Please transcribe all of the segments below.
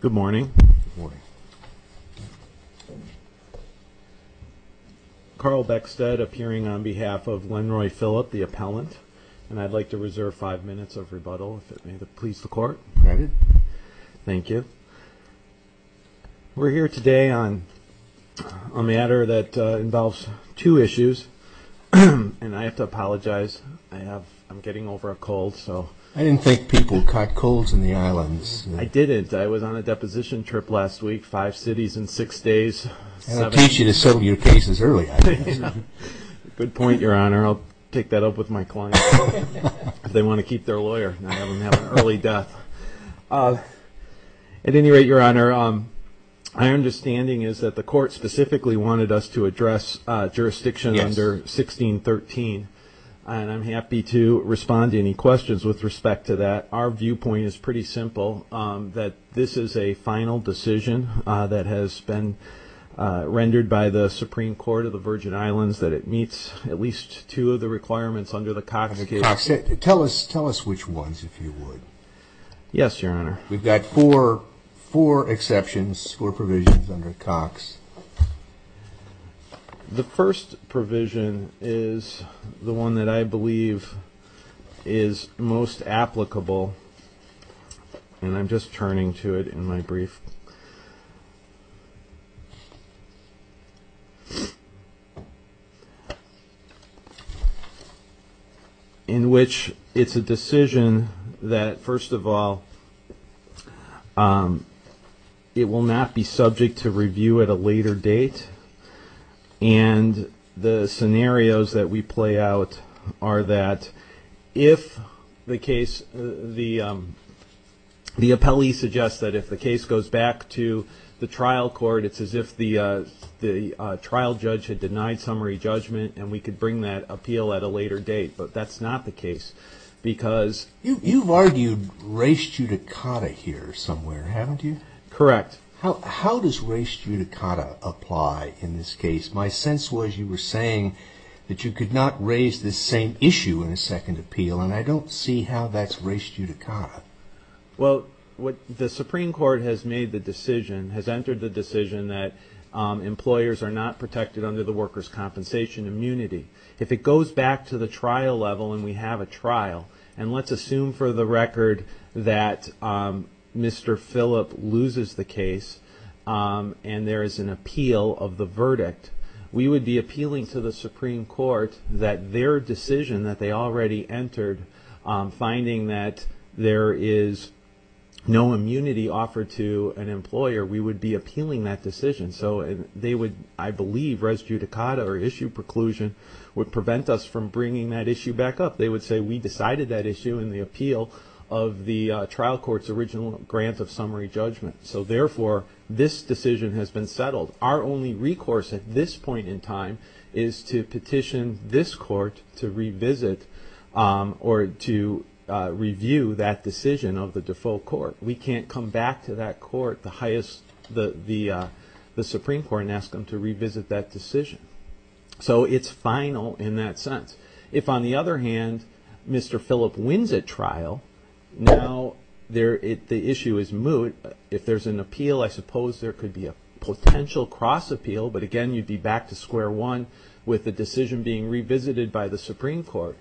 Good morning. Carl Beckstead appearing on behalf of Lenroy Phillip, the appellant, and I'd like to reserve five minutes of rebuttal if it may please the court. Thank you. We're here today on a matter that involves two issues and I have to apologize. I'm getting over a cold. I didn't think people caught colds in the islands. I didn't. I was on a deposition trip last week, five cities in six days. I'll teach you to settle your cases early. Good point your honor. I'll take that up with my client if they want to keep their lawyer. I don't have an early death. At any rate your honor, my understanding is that the court specifically wanted us to address jurisdiction under 1613 and I'm happy to respond to any questions with respect to that. Our viewpoint is pretty simple that this is a final decision that has been rendered by the Supreme Court of the Virgin Islands that it meets at least two of the requirements under the Cox case. Tell us which ones if you would. Yes your honor. We've got four exceptions, four provisions under Cox. The first provision is the one that I believe is most applicable and I'm just turning to it in my brief. In which it's a decision that first of all it will not be subject to review at a later date and the scenarios that we play out are that if the case, the appellee suggests that if the case goes back to the trial court it's as if the trial judge had denied summary judgment and we could bring that appeal at a later date but that's not the case because. You've argued race judicata here somewhere haven't you? Correct. How does race judicata apply in this case? My sense was you were saying that you could not raise the same issue in a second appeal and I don't see how that's race judicata. Well what the Supreme Court has made the decision has entered the decision that employers are not protected under the workers compensation immunity. If it goes back to the trial level and we have a trial and let's assume for the record that Mr. Phillip loses the case and there is an appeal of the verdict we would be appealing to the Supreme Court that their decision that they already entered finding that there is no immunity offered to an employer we would be appealing that decision so they would I believe race judicata or issue preclusion would prevent us from bringing that issue back up. They would say we decided that issue in the appeal of the trial court's original grant of summary judgment so therefore this decision has been settled. Our only recourse at this point in time is to petition this court to revisit or to review that decision of the default court. We can't come back to that court the highest the Supreme Court and ask them to revisit that if on the other hand Mr. Phillip wins at trial now the issue is moot if there's an appeal I suppose there could be a potential cross appeal but again you'd be back to square one with the decision being revisited by the Supreme Court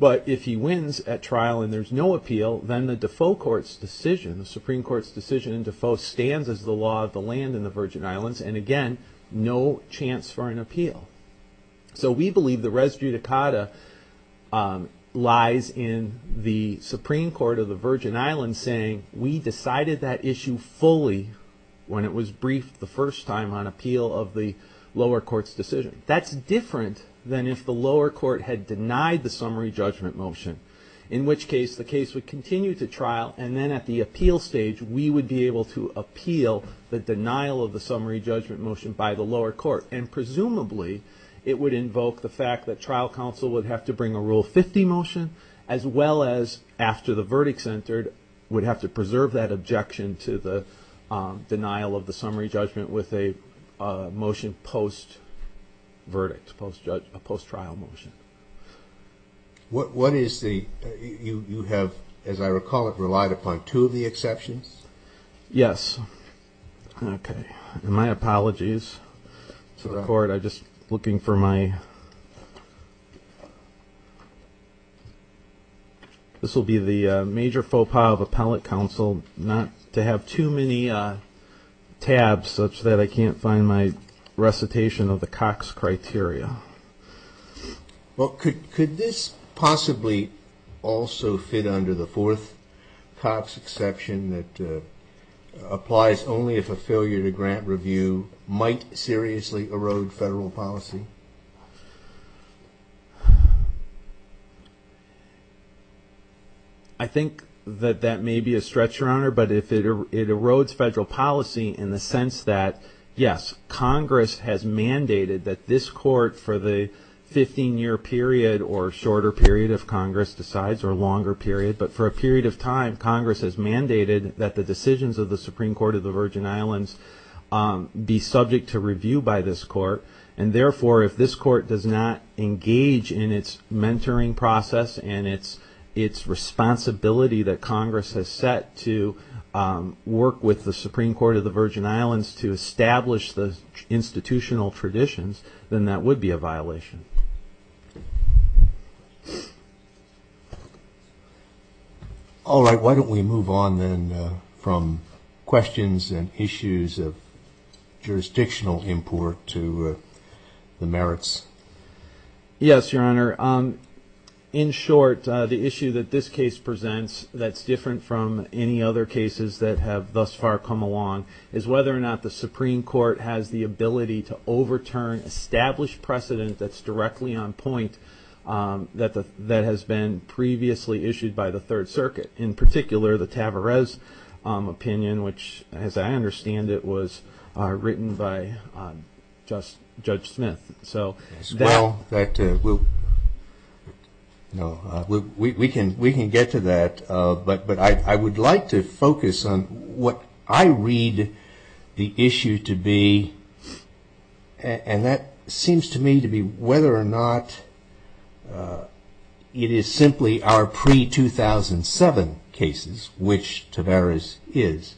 but if he wins at trial and there's no appeal then the default court's decision the Supreme Court's decision in default stands as the law of the land in the Virgin Islands and again no chance for an appeal. So we believe the residue judicata lies in the Supreme Court of the Virgin Islands saying we decided that issue fully when it was briefed the first time on appeal of the lower court's decision. That's different than if the lower court had denied the summary judgment motion in which case the case would continue to trial and then at the appeal stage we would be able to appeal the denial of the summary judgment motion by the lower court and presumably it would invoke the fact that the trial counsel would have to bring a rule 50 motion as well as after the verdicts entered would have to preserve that objection to the denial of the summary judgment with a motion post verdict post trial motion. What is the you have as I recall it relied upon two of the exceptions? Yes okay and my apologies to the court I just looking for my this will be the major faux pas of appellate counsel not to have too many tabs such that I can't find my recitation of the Cox criteria. Well could could this possibly also fit under the fourth Cox exception that applies only if a failure to grant review might seriously erode federal policy? I think that that may be a stretch your honor but if it erodes federal policy in the sense that yes Congress has mandated that this court for the 15-year period or shorter period of Congress decides or longer period but for a period of time Congress has mandated that the decisions of the Supreme Court of the Virgin Islands be subject to review by this court and therefore if this court does not engage in its mentoring process and it's its responsibility that Congress has set to work with the Supreme Court of the Virgin Islands to establish the would be a violation. All right why don't we move on then from questions and issues of jurisdictional import to the merits. Yes your honor in short the issue that this case presents that's different from any other cases that have thus far come along is whether or not the Supreme Court has the ability to overturn established precedent that's directly on point that the that has been previously issued by the Third Circuit in particular the Tavares opinion which as I understand it was written by just Judge Smith. So that will no we can we can get to that but but I would like to focus on what I read the issue to be and that seems to me to be whether or not it is simply our pre-2007 cases which Tavares is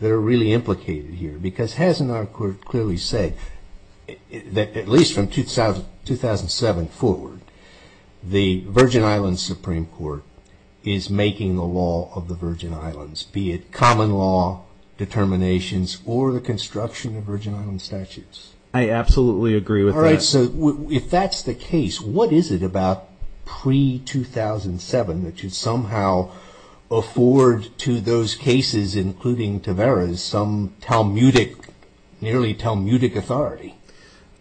that are really implicated here because hasn't our court clearly said that at least from 2007 forward the Virgin Islands Supreme Court is making the law of the Virgin Islands be it common law determinations or the agree with that. All right so if that's the case what is it about pre-2007 that should somehow afford to those cases including Tavares some Talmudic nearly Talmudic authority?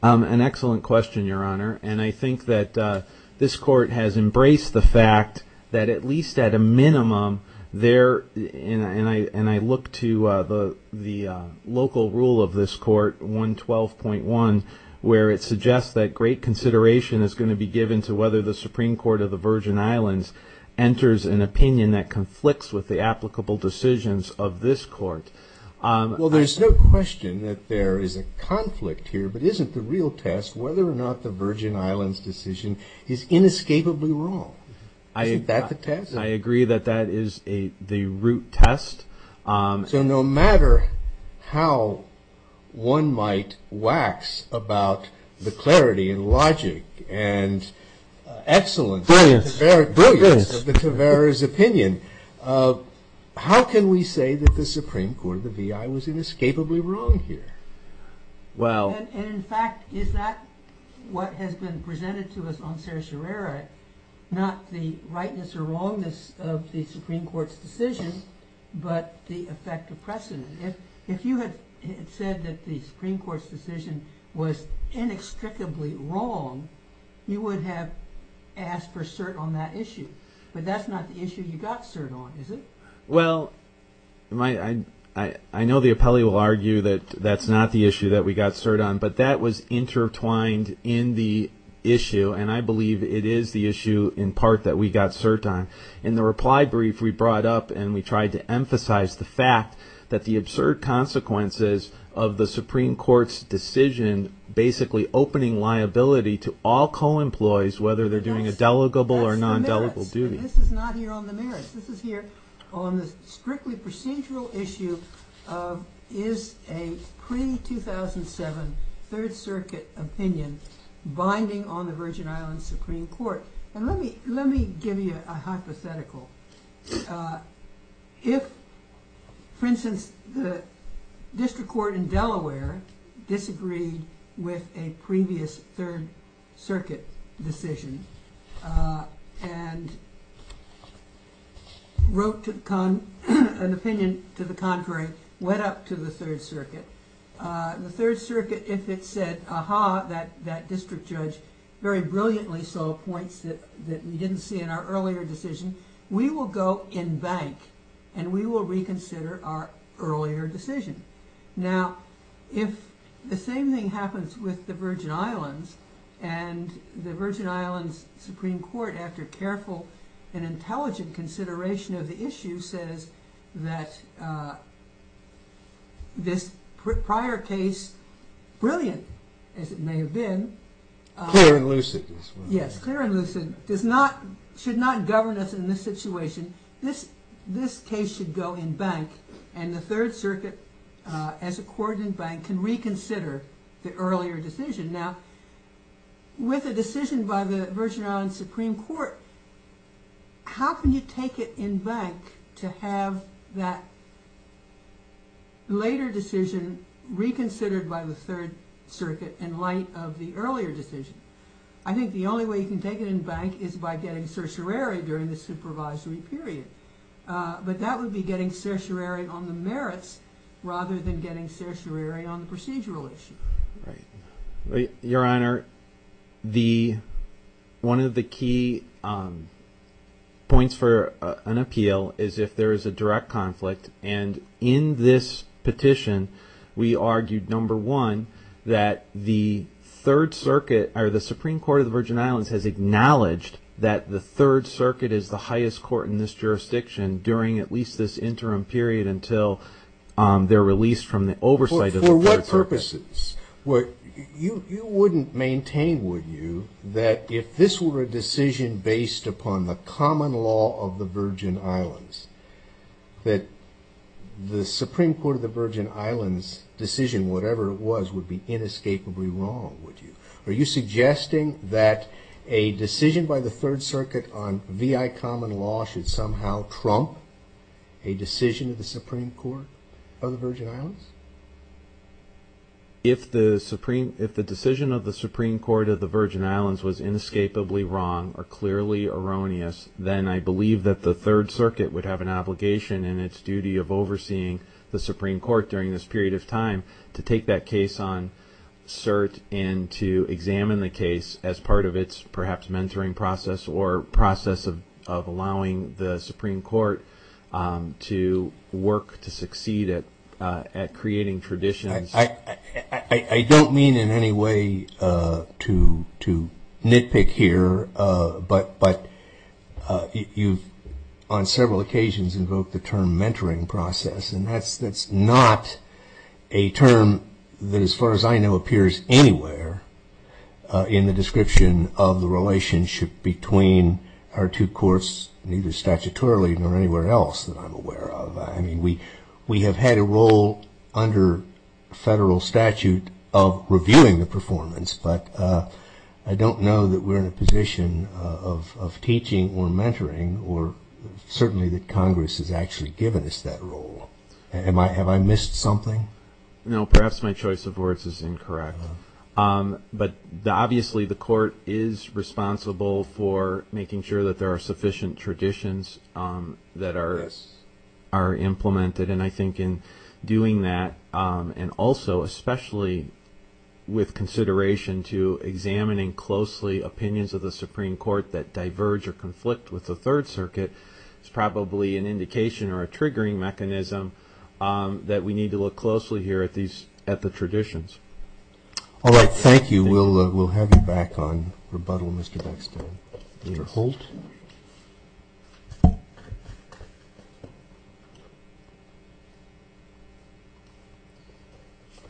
An excellent question your honor and I think that this court has embraced the fact that at least at a minimum there and I and I look to the local rule of this court 112.1 where it suggests that great consideration is going to be given to whether the Supreme Court of the Virgin Islands enters an opinion that conflicts with the applicable decisions of this court. Well there's no question that there is a conflict here but isn't the real test whether or not the Virgin Islands decision is inescapably wrong. I think I agree that that is a the root test. So no matter how one might wax about the clarity and logic and excellence of the Tavares opinion how can we say that the Supreme Court of the VI was inescapably wrong here? Well in fact is not what has been presented to us on Sarah Sherrera not the rightness or wrongness of the Supreme Court's decision but the effect of precedent. If if you had said that the Supreme Court's decision was inextricably wrong you would have asked for cert on that issue but that's not the issue you got cert on is it? Well my I I know the appellee will argue that that's not the issue that we got cert on but that was intertwined in the issue and I believe it is the issue in part that we got cert on. In the reply brief we brought up and we tried to emphasize the fact that the absurd consequences of the Supreme Court's decision basically opening liability to all co-employees whether they're doing a 2007 Third Circuit opinion binding on the Virgin Islands Supreme Court and let me let me give you a hypothetical. If for instance the district court in Delaware disagreed with a previous Third Circuit decision and wrote to an opinion to the contrary went up to the Third Circuit the Third Circuit if it said aha that that district judge very brilliantly saw points that that we didn't see in our earlier decision we will go in bank and we will reconsider our earlier decision. Now if the same thing happens with the Virgin Islands and the Virgin Islands Supreme Court after careful and intelligent consideration of the issue says that this prior case brilliant as it may have been. Clear and lucid. Yes clear and lucid does not should not govern us in this situation this this case should go in bank and the Third Circuit as a coordinate bank can reconsider the earlier decision. Now with a decision by the Virgin Islands Supreme Court how can you take it in bank to have that later decision reconsidered by the Third Circuit in light of the earlier decision. I think the only way you can take it in bank is by getting certiorari during the supervisory period but that would be getting certiorari on the merits rather than getting certiorari on the procedural issue. Your Honor the one of the key points for an appeal is if there is a direct conflict and in this petition we argued number one that the Third Circuit or the Supreme Court of the Virgin Islands has acknowledged that the Third Circuit is the highest court in this jurisdiction during at least this interim period until they're released from the oversight of the Third Circuit. For what purposes? You wouldn't maintain would you that if this were a decision based upon the common law of the Virgin Islands that the Supreme Court of the Virgin Islands decision whatever it was would be inescapably wrong would you. Are you suggesting that a decision by the Third Circuit on VI common law should somehow trump a decision of the Supreme Court of the Virgin Islands? If the Supreme if the decision of the Supreme Court of the Virgin Islands was inescapably wrong or clearly erroneous then I believe that the Third Circuit would have an obligation and its duty of overseeing the Supreme Court during this period of time to take that case on cert and to examine the case as part of its perhaps mentoring process or process of allowing the Supreme Court to work to succeed at creating traditions. I don't mean in any way to nitpick here but but you've on several occasions invoked the term mentoring process and that's that's not a term that as far as I know appears anywhere in the description of the relationship between our two courts neither statutorily nor anywhere else that I'm aware of. I mean we we have had a role under federal statute of reviewing the performance but I don't know that we're in a position of teaching or mentoring or certainly that Congress has actually given us that role. Have I missed something? No perhaps my choice of words is incorrect but obviously the Supreme Court is responsible for making sure that there are sufficient traditions that are implemented and I think in doing that and also especially with consideration to examining closely opinions of the Supreme Court that diverge or conflict with the Third Circuit is probably an indication or a triggering mechanism that we need to look closely here at these at the traditions. All right thank you we'll we'll have you back on rebuttal Mr. Beckstein. Mr. Holt.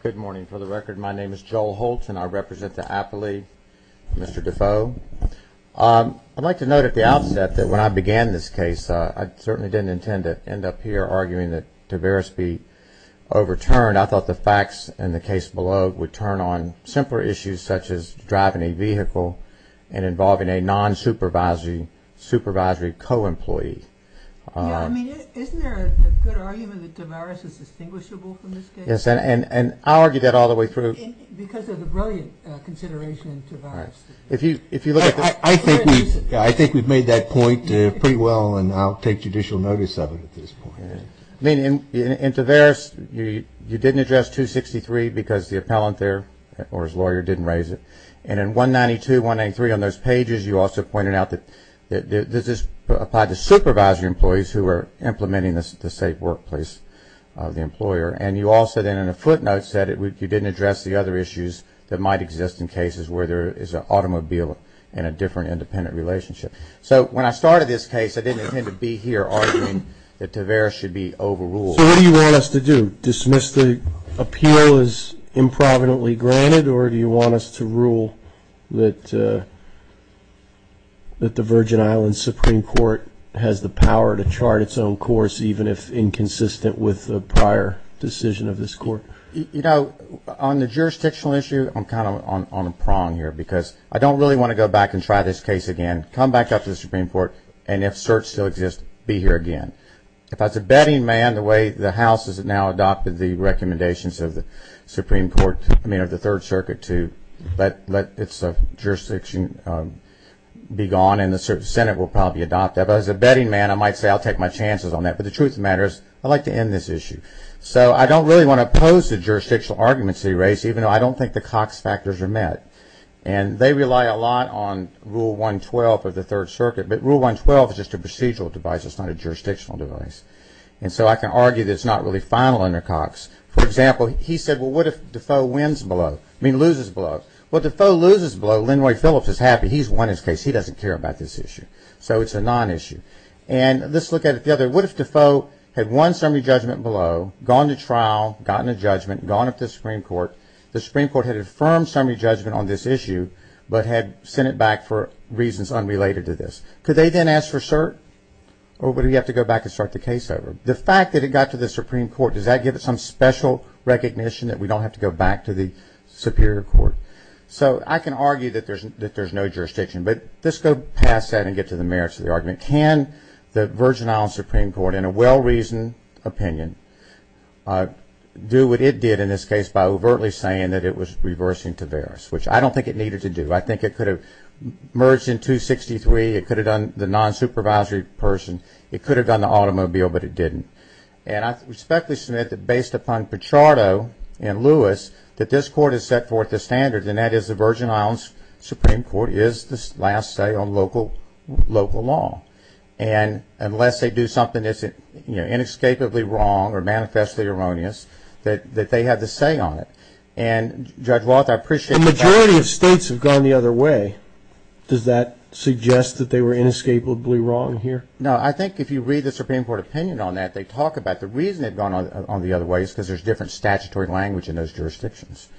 Good morning for the record my name is Joel Holt and I represent the appellee Mr. Defoe. I'd like to note at the outset that when I began this case I certainly didn't intend to end up here arguing that Tavaris be overturned. I thought the case below would turn on simpler issues such as driving a vehicle and involving a non-supervisory supervisory co-employee. Isn't there a good argument that Tavaris is distinguishable from this case? Yes and I'll argue that all the way through. Because of the brilliant consideration of Tavaris. I think we've made that point pretty well and I'll take judicial notice of it at this point. In Tavaris you didn't address 263 because the appellant there or his lawyer didn't raise it. And in 192-193 on those pages you also pointed out that this is applied to supervisory employees who are implementing the safe workplace of the employer. And you also then in a footnote said you didn't address the other issues that might exist in cases where there is an automobile and a different independent relationship. So when I started this case I didn't intend to be here arguing that Tavaris should be overruled. So what do you want us to do? Dismiss the appeal as improvidently granted or do you want us to rule that the Virgin Islands Supreme Court has the power to chart its own course even if inconsistent with the prior decision of this court? You know on the jurisdictional issue I'm kind of on a prong here because I don't really want to go back and try this case again, come back up to the Supreme Court and if certs still exist be here again. If as a betting man the way the House has now adopted the recommendations of the Supreme Court, I mean of the Third Circuit to let jurisdiction be gone and the Senate will probably adopt that. But as a betting man I might say I'll take my chances on that. But the truth of the matter is I'd like to end this issue. So I don't really want to oppose the jurisdictional arguments they raise even though I don't think the Cox factors are met and they rely a lot on Rule 112 of the Third Circuit but Rule 112 is just a procedural device, it's not a jurisdictional device. And so I can argue that it's not really final under Cox. For example, he said well what if Defoe wins below, I mean loses below. Well if Defoe loses below, Linroy Phillips is happy, he's won his case, he doesn't care about this issue. So it's a non-issue. And let's look at it the other way, what if Defoe had won summary judgment below, gone to trial, gotten a judgment, gone up to the Supreme Court, the Supreme Court had affirmed summary judgment on this issue but had sent it back for reasons unrelated to this. Could they then ask for cert? Or would he have to go back and start the case over? The fact that it got to the Supreme Court, does that give it some special recognition that we don't have to go back to the Superior Court? So I can argue that there's no jurisdiction. But let's go past that and get to the merits of the argument. Can the Virgin Islands Supreme Court in a well-reasoned opinion do what it did in this case by overtly saying that it was reversing Taveras? Which I don't think it needed to do. I think it could have merged in 263, it could have done the non-supervisory person, it could have done the automobile, but it didn't. And I respectfully submit that based upon Pichardo and Lewis, that this Court has set forth the standards, and that is the Virgin Islands Supreme Court is the last say on local law. And unless they do something that's inescapably wrong or manifestly erroneous, that they have the say on it. And Judge Roth, I appreciate that. The majority of states have gone the other way. Does that suggest that they were inescapably wrong here? No, I think if you read the Supreme Court opinion on that, they talk about the reason they've gone on the other way is because there's different statutory language in those jurisdictions.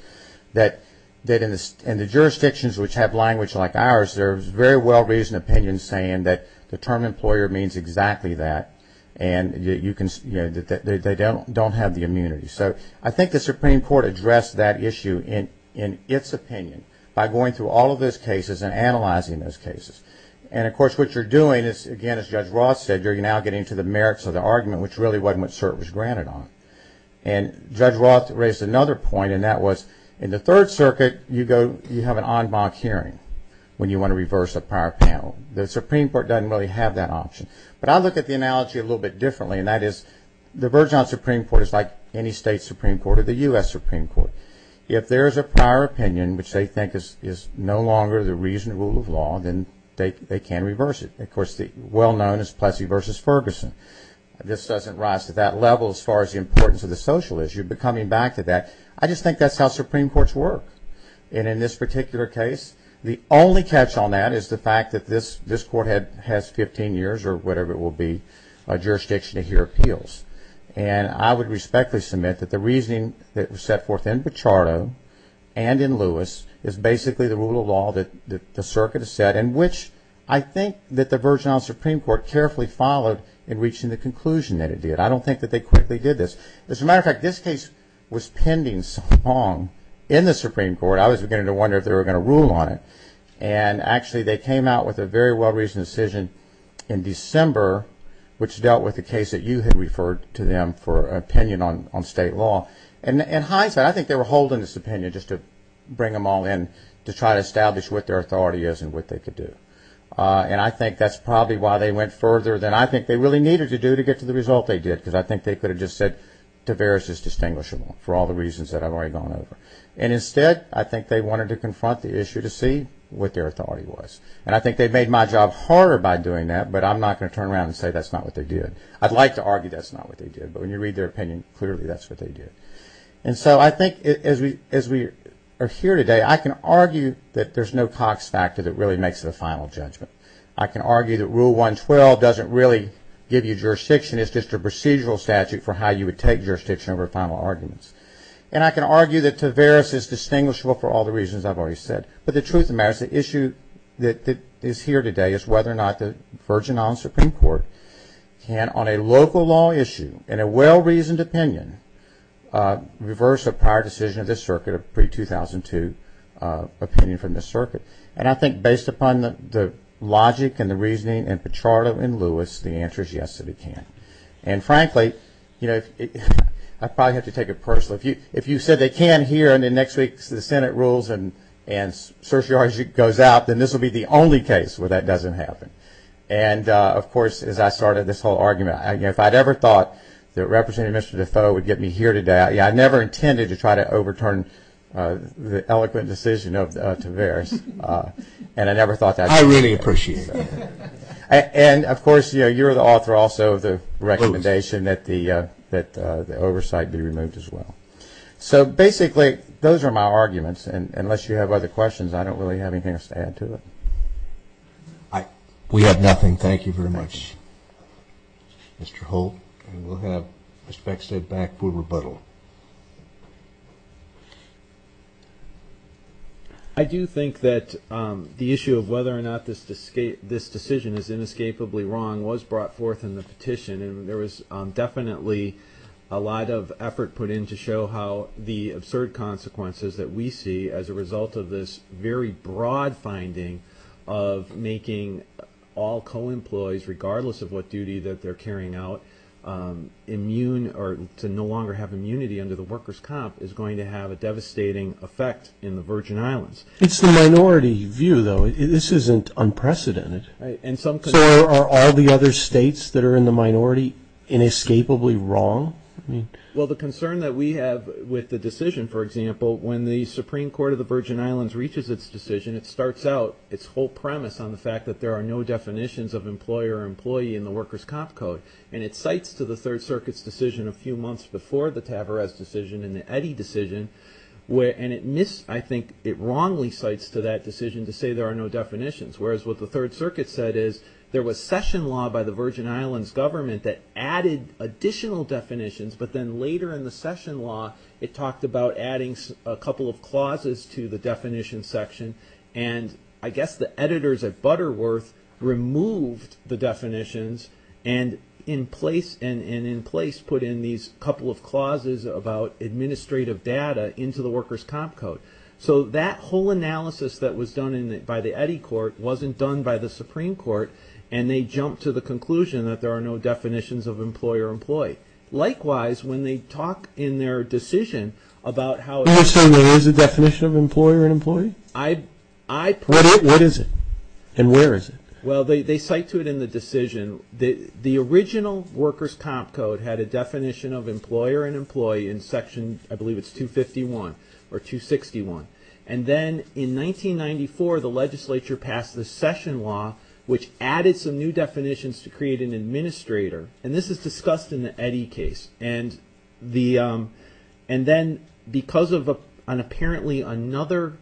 That in the jurisdictions which have language like ours, there's very well-reasoned opinions saying that the term employer means exactly that, and that they don't have the immunity. So I think the Supreme Court addressed that issue in its opinion by going through all of those cases and analyzing those cases. And of course, what you're doing is, again, as Judge Roth said, you're now getting to the merits of the argument, which really wasn't what CERT was granted on. And Judge Roth raised another point, and that was, in the Third Circuit, you have an en banc hearing when you want to reverse a prior panel. The Supreme Court doesn't really have that option. But I look at the analogy a little bit differently, and that is the version on the Supreme Court is like any state Supreme Court or the U.S. Supreme Court. If there is a prior opinion which they think is no longer the reasonable rule of law, then they can reverse it. Of course, the well-known is Plessy v. Ferguson. This doesn't rise to that level as far as the importance of the social issue, but coming back to that, I just think that's how Supreme Courts work. And in this particular case, the only catch on that is the fact that this Court has 15 years or whatever it will be, jurisdiction to hear appeals. And I would respectfully submit that the reasoning that was set forth in Bacciardo and in Lewis is basically the rule of law that the Circuit has set, and which I think that the version on the Supreme Court carefully followed in reaching the conclusion that it did. I don't think that they quickly did this. As a matter of fact, this case was pending some time in the Supreme Court. I was beginning to wonder if they were going to rule on it. And actually, they came out with a very well-reasoned decision in December, which dealt with the case that you had referred to them for an opinion on state law. And in hindsight, I think they were holding this opinion just to bring them all in to try to establish what their authority is and what they could do. And I think that's probably why they went further than I think they really needed to do to get to the result they did, because I think they could have just said Tavares is distinguishable for all the reasons that I've already gone over. And instead, I think they wanted to confront the issue to see what their authority was. And I think they made my job harder by doing that, but I'm not going to turn around and say that's not what they did. I'd like to argue that's not what they did, but when you read their opinion, clearly that's what they did. And so I think as we are here today, I can argue that there's no Cox factor that really makes the final judgment. I can argue that Rule 112 doesn't really give you jurisdiction. It's just a procedural statute for how you would take jurisdiction over final arguments. And I can argue that Tavares is distinguishable for all the reasons I've already said. But the truth of the matter is the issue that is here today is whether or not the Virgin Islands Supreme Court can, on a local law issue and a well-reasoned opinion, reverse a prior decision of this circuit, a pre-2002 opinion from this circuit. And I think based upon the logic and the reasoning and Pichardo and Lewis, the answer is yes that it can. And frankly, I probably have to take it personally, if you said they can here and then next week the Senate rules and certiorari goes out, then this will be the only case where that doesn't happen. And of course, as I started this whole argument, if I'd ever thought that Representative DeFoe would get me here today, I never intended to try to overturn the eloquent decision of Tavares. And I never thought that would happen. I really appreciate that. And of course, you're the author also of the recommendation that the oversight be removed as well. So basically, those are my arguments. And unless you have other questions, I don't really have anything else to add to it. We have nothing. Thank you very much, Mr. Holt. And we'll have Mr. Beckstead back for rebuttal. I do think that the issue of whether or not this decision is inescapably wrong was brought forth in the petition. And there was definitely a lot of effort put in to show how the absurd consequences that we see as a result of this very broad finding of making all co-employees, regardless of what duty that they're carrying out, immune or to no longer have immunity under the workers' comp is going to have a devastating effect in the Virgin Islands. It's the minority view, though. This isn't unprecedented. So are the other states that are in the minority inescapably wrong? Well, the concern that we have with the decision, for example, when the Supreme Court of the Virgin Islands reaches its decision, it starts out its whole premise on the fact that there are no definitions of employer or employee in the workers' comp code. And it cites to the Third Circuit's decision a few months before the Tavarez decision and the Eddy decision. And it wrongly cites to that decision to say there are no definitions. Whereas what the Third Circuit said is there was session law by the Virgin Islands government that added additional definitions, but then later in the session law it talked about adding a couple of clauses to the definition section. And I guess the editors at Butterworth removed the definitions and in place put in these couple of clauses about administrative data into the workers' comp code. So that whole analysis that was done by the Eddy court wasn't done by the Supreme Court. And they jumped to the conclusion that there are no definitions of employer or employee. Likewise, when they talk in their decision about how... You're saying there is a definition of employer and employee? I... What is it? And where is it? Well, they cite to it in the decision. The original workers' comp code had a definition of employer and employee in section, I believe it's 251 or 261. And then in 1994 the legislature passed the session law which added some new definitions to create an administrator. And this is discussed in the Eddy case. And the... And then because of an apparently another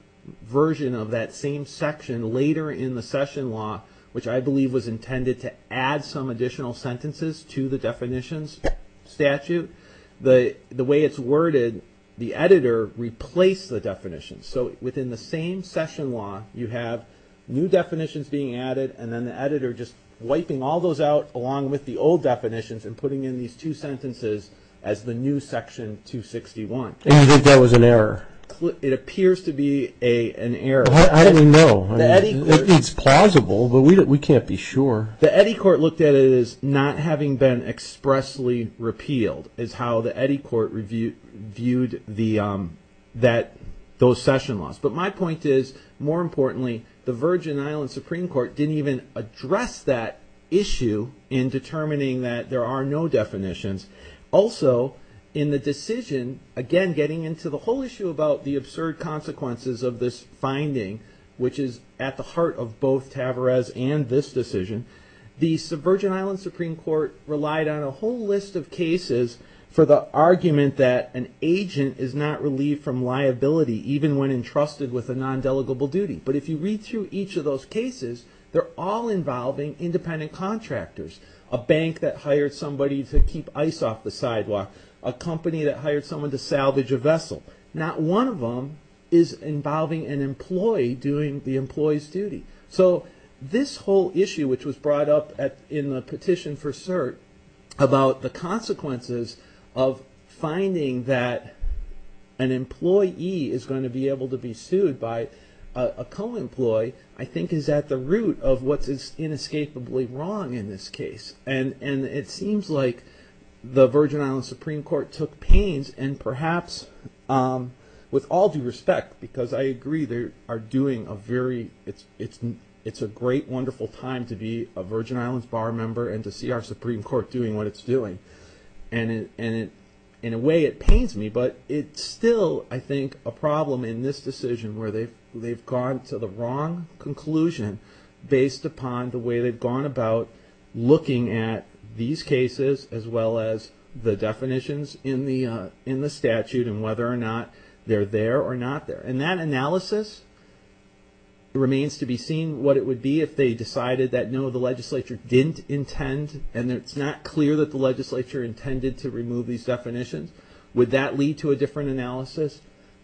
version of that same section later in the session law, which I believe was intended to add some additional sentences to the definitions statute. The way it's worded, the editor replaced the definition. So within the same session law you have new definitions being added and then the editor just wiping all those out along with the old definitions and putting in these two sentences as the new section 261. And you think that was an error? It appears to be an error. Well, how do we know? It's plausible, but we can't be sure. The Eddy court looked at it as not having been expressly repealed is how the Eddy court reviewed those session laws. But my point is, more importantly, the Virgin Islands Supreme Court didn't even address that issue in determining that there are no definitions. Also, in the decision, again, getting into the whole issue about the absurd consequences of this finding, which is at the heart of both Tavarez and this decision, the Virgin Islands Supreme Court relied on a whole list of cases for the argument that an agent is not relieved from liability even when entrusted with a non-delegable duty. But if you read through each of those cases, they're all involving independent contractors, a bank that hired somebody to keep ice off the sidewalk, a company that hired someone to salvage a vessel. Not one of them is involving an employee doing the employee's duty. So this whole issue, which was brought up in the petition for cert about the consequences of finding that an employee is going to be able to be sued by a co-employee, I think is at the root of what's inescapably wrong in this case. And it seems like the Virgin Islands Supreme Court took pains and perhaps, with all due respect, because I agree, they are doing a very, it's a great, wonderful time to be a Virgin Islands bar member and to see our Supreme Court doing what it's doing. And in a way, it pains me, but it's still, I think, a problem in this decision where they've gone to the wrong conclusion based upon the way they've gone about looking at these cases as well as the definitions in the statute and whether or not they're there or not there. And that analysis, it remains to be seen what it would be if they decided that, no, the legislature didn't intend and it's not clear that the legislature intended to remove these definitions. Would that lead to a different analysis?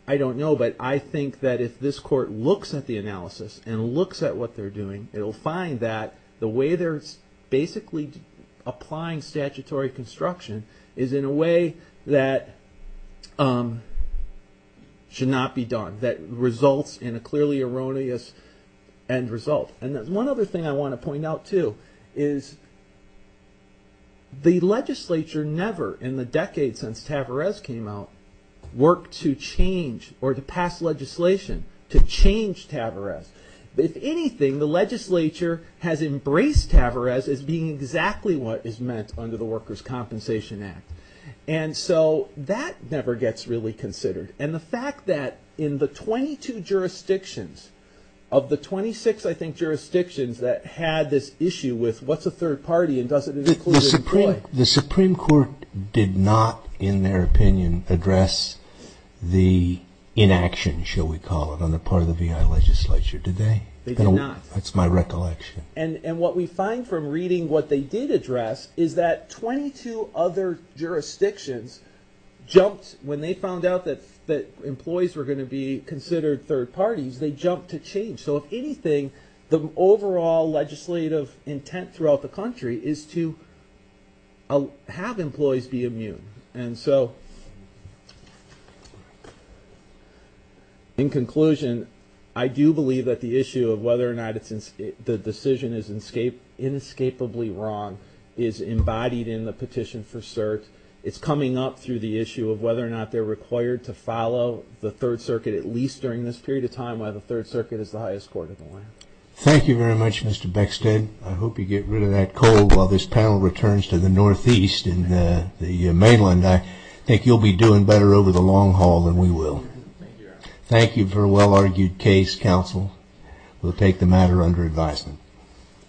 I don't know, but I think that if this court looks at the analysis and looks at what they're doing, it'll find that the way they're basically applying statutory construction is in a way that should not be done, that results in a clearly erroneous end result. And one other thing I want to point out, too, is the legislature never, in the decade since Tavarez came out, worked to change or to pass legislation to change Tavarez. If anything, the legislature has embraced Tavarez as being exactly what is meant under the Workers' Compensation Act. And so that never gets really considered. And the fact that in the 22 jurisdictions, of the 26, I think, jurisdictions that had this issue with what's a third party and doesn't it include employees? The Supreme Court did not, in their opinion, address the inaction, shall we call it, on the part of the VI legislature, did they? They did not. That's my recollection. And what we find from reading what they did address is that 22 other jurisdictions jumped, when they found out that employees were going to be considered third parties, they jumped to change. So if anything, the overall legislative intent throughout the country is to have employees be immune. And so in conclusion, I do believe that the issue of whether or not the decision is inescapably wrong is embodied in the petition for cert. It's coming up through the issue of whether or not they're required to follow the Third Circuit, at least during this period of time, while the Third Circuit is the highest court in the land. Thank you very much, Mr. Beckstead. I hope you get rid of that cold while this panel returns to the Northeast and the mainland. I think you'll be doing better over the long haul than we will. Thank you for a well-argued case, counsel. We'll take the matter under advisement.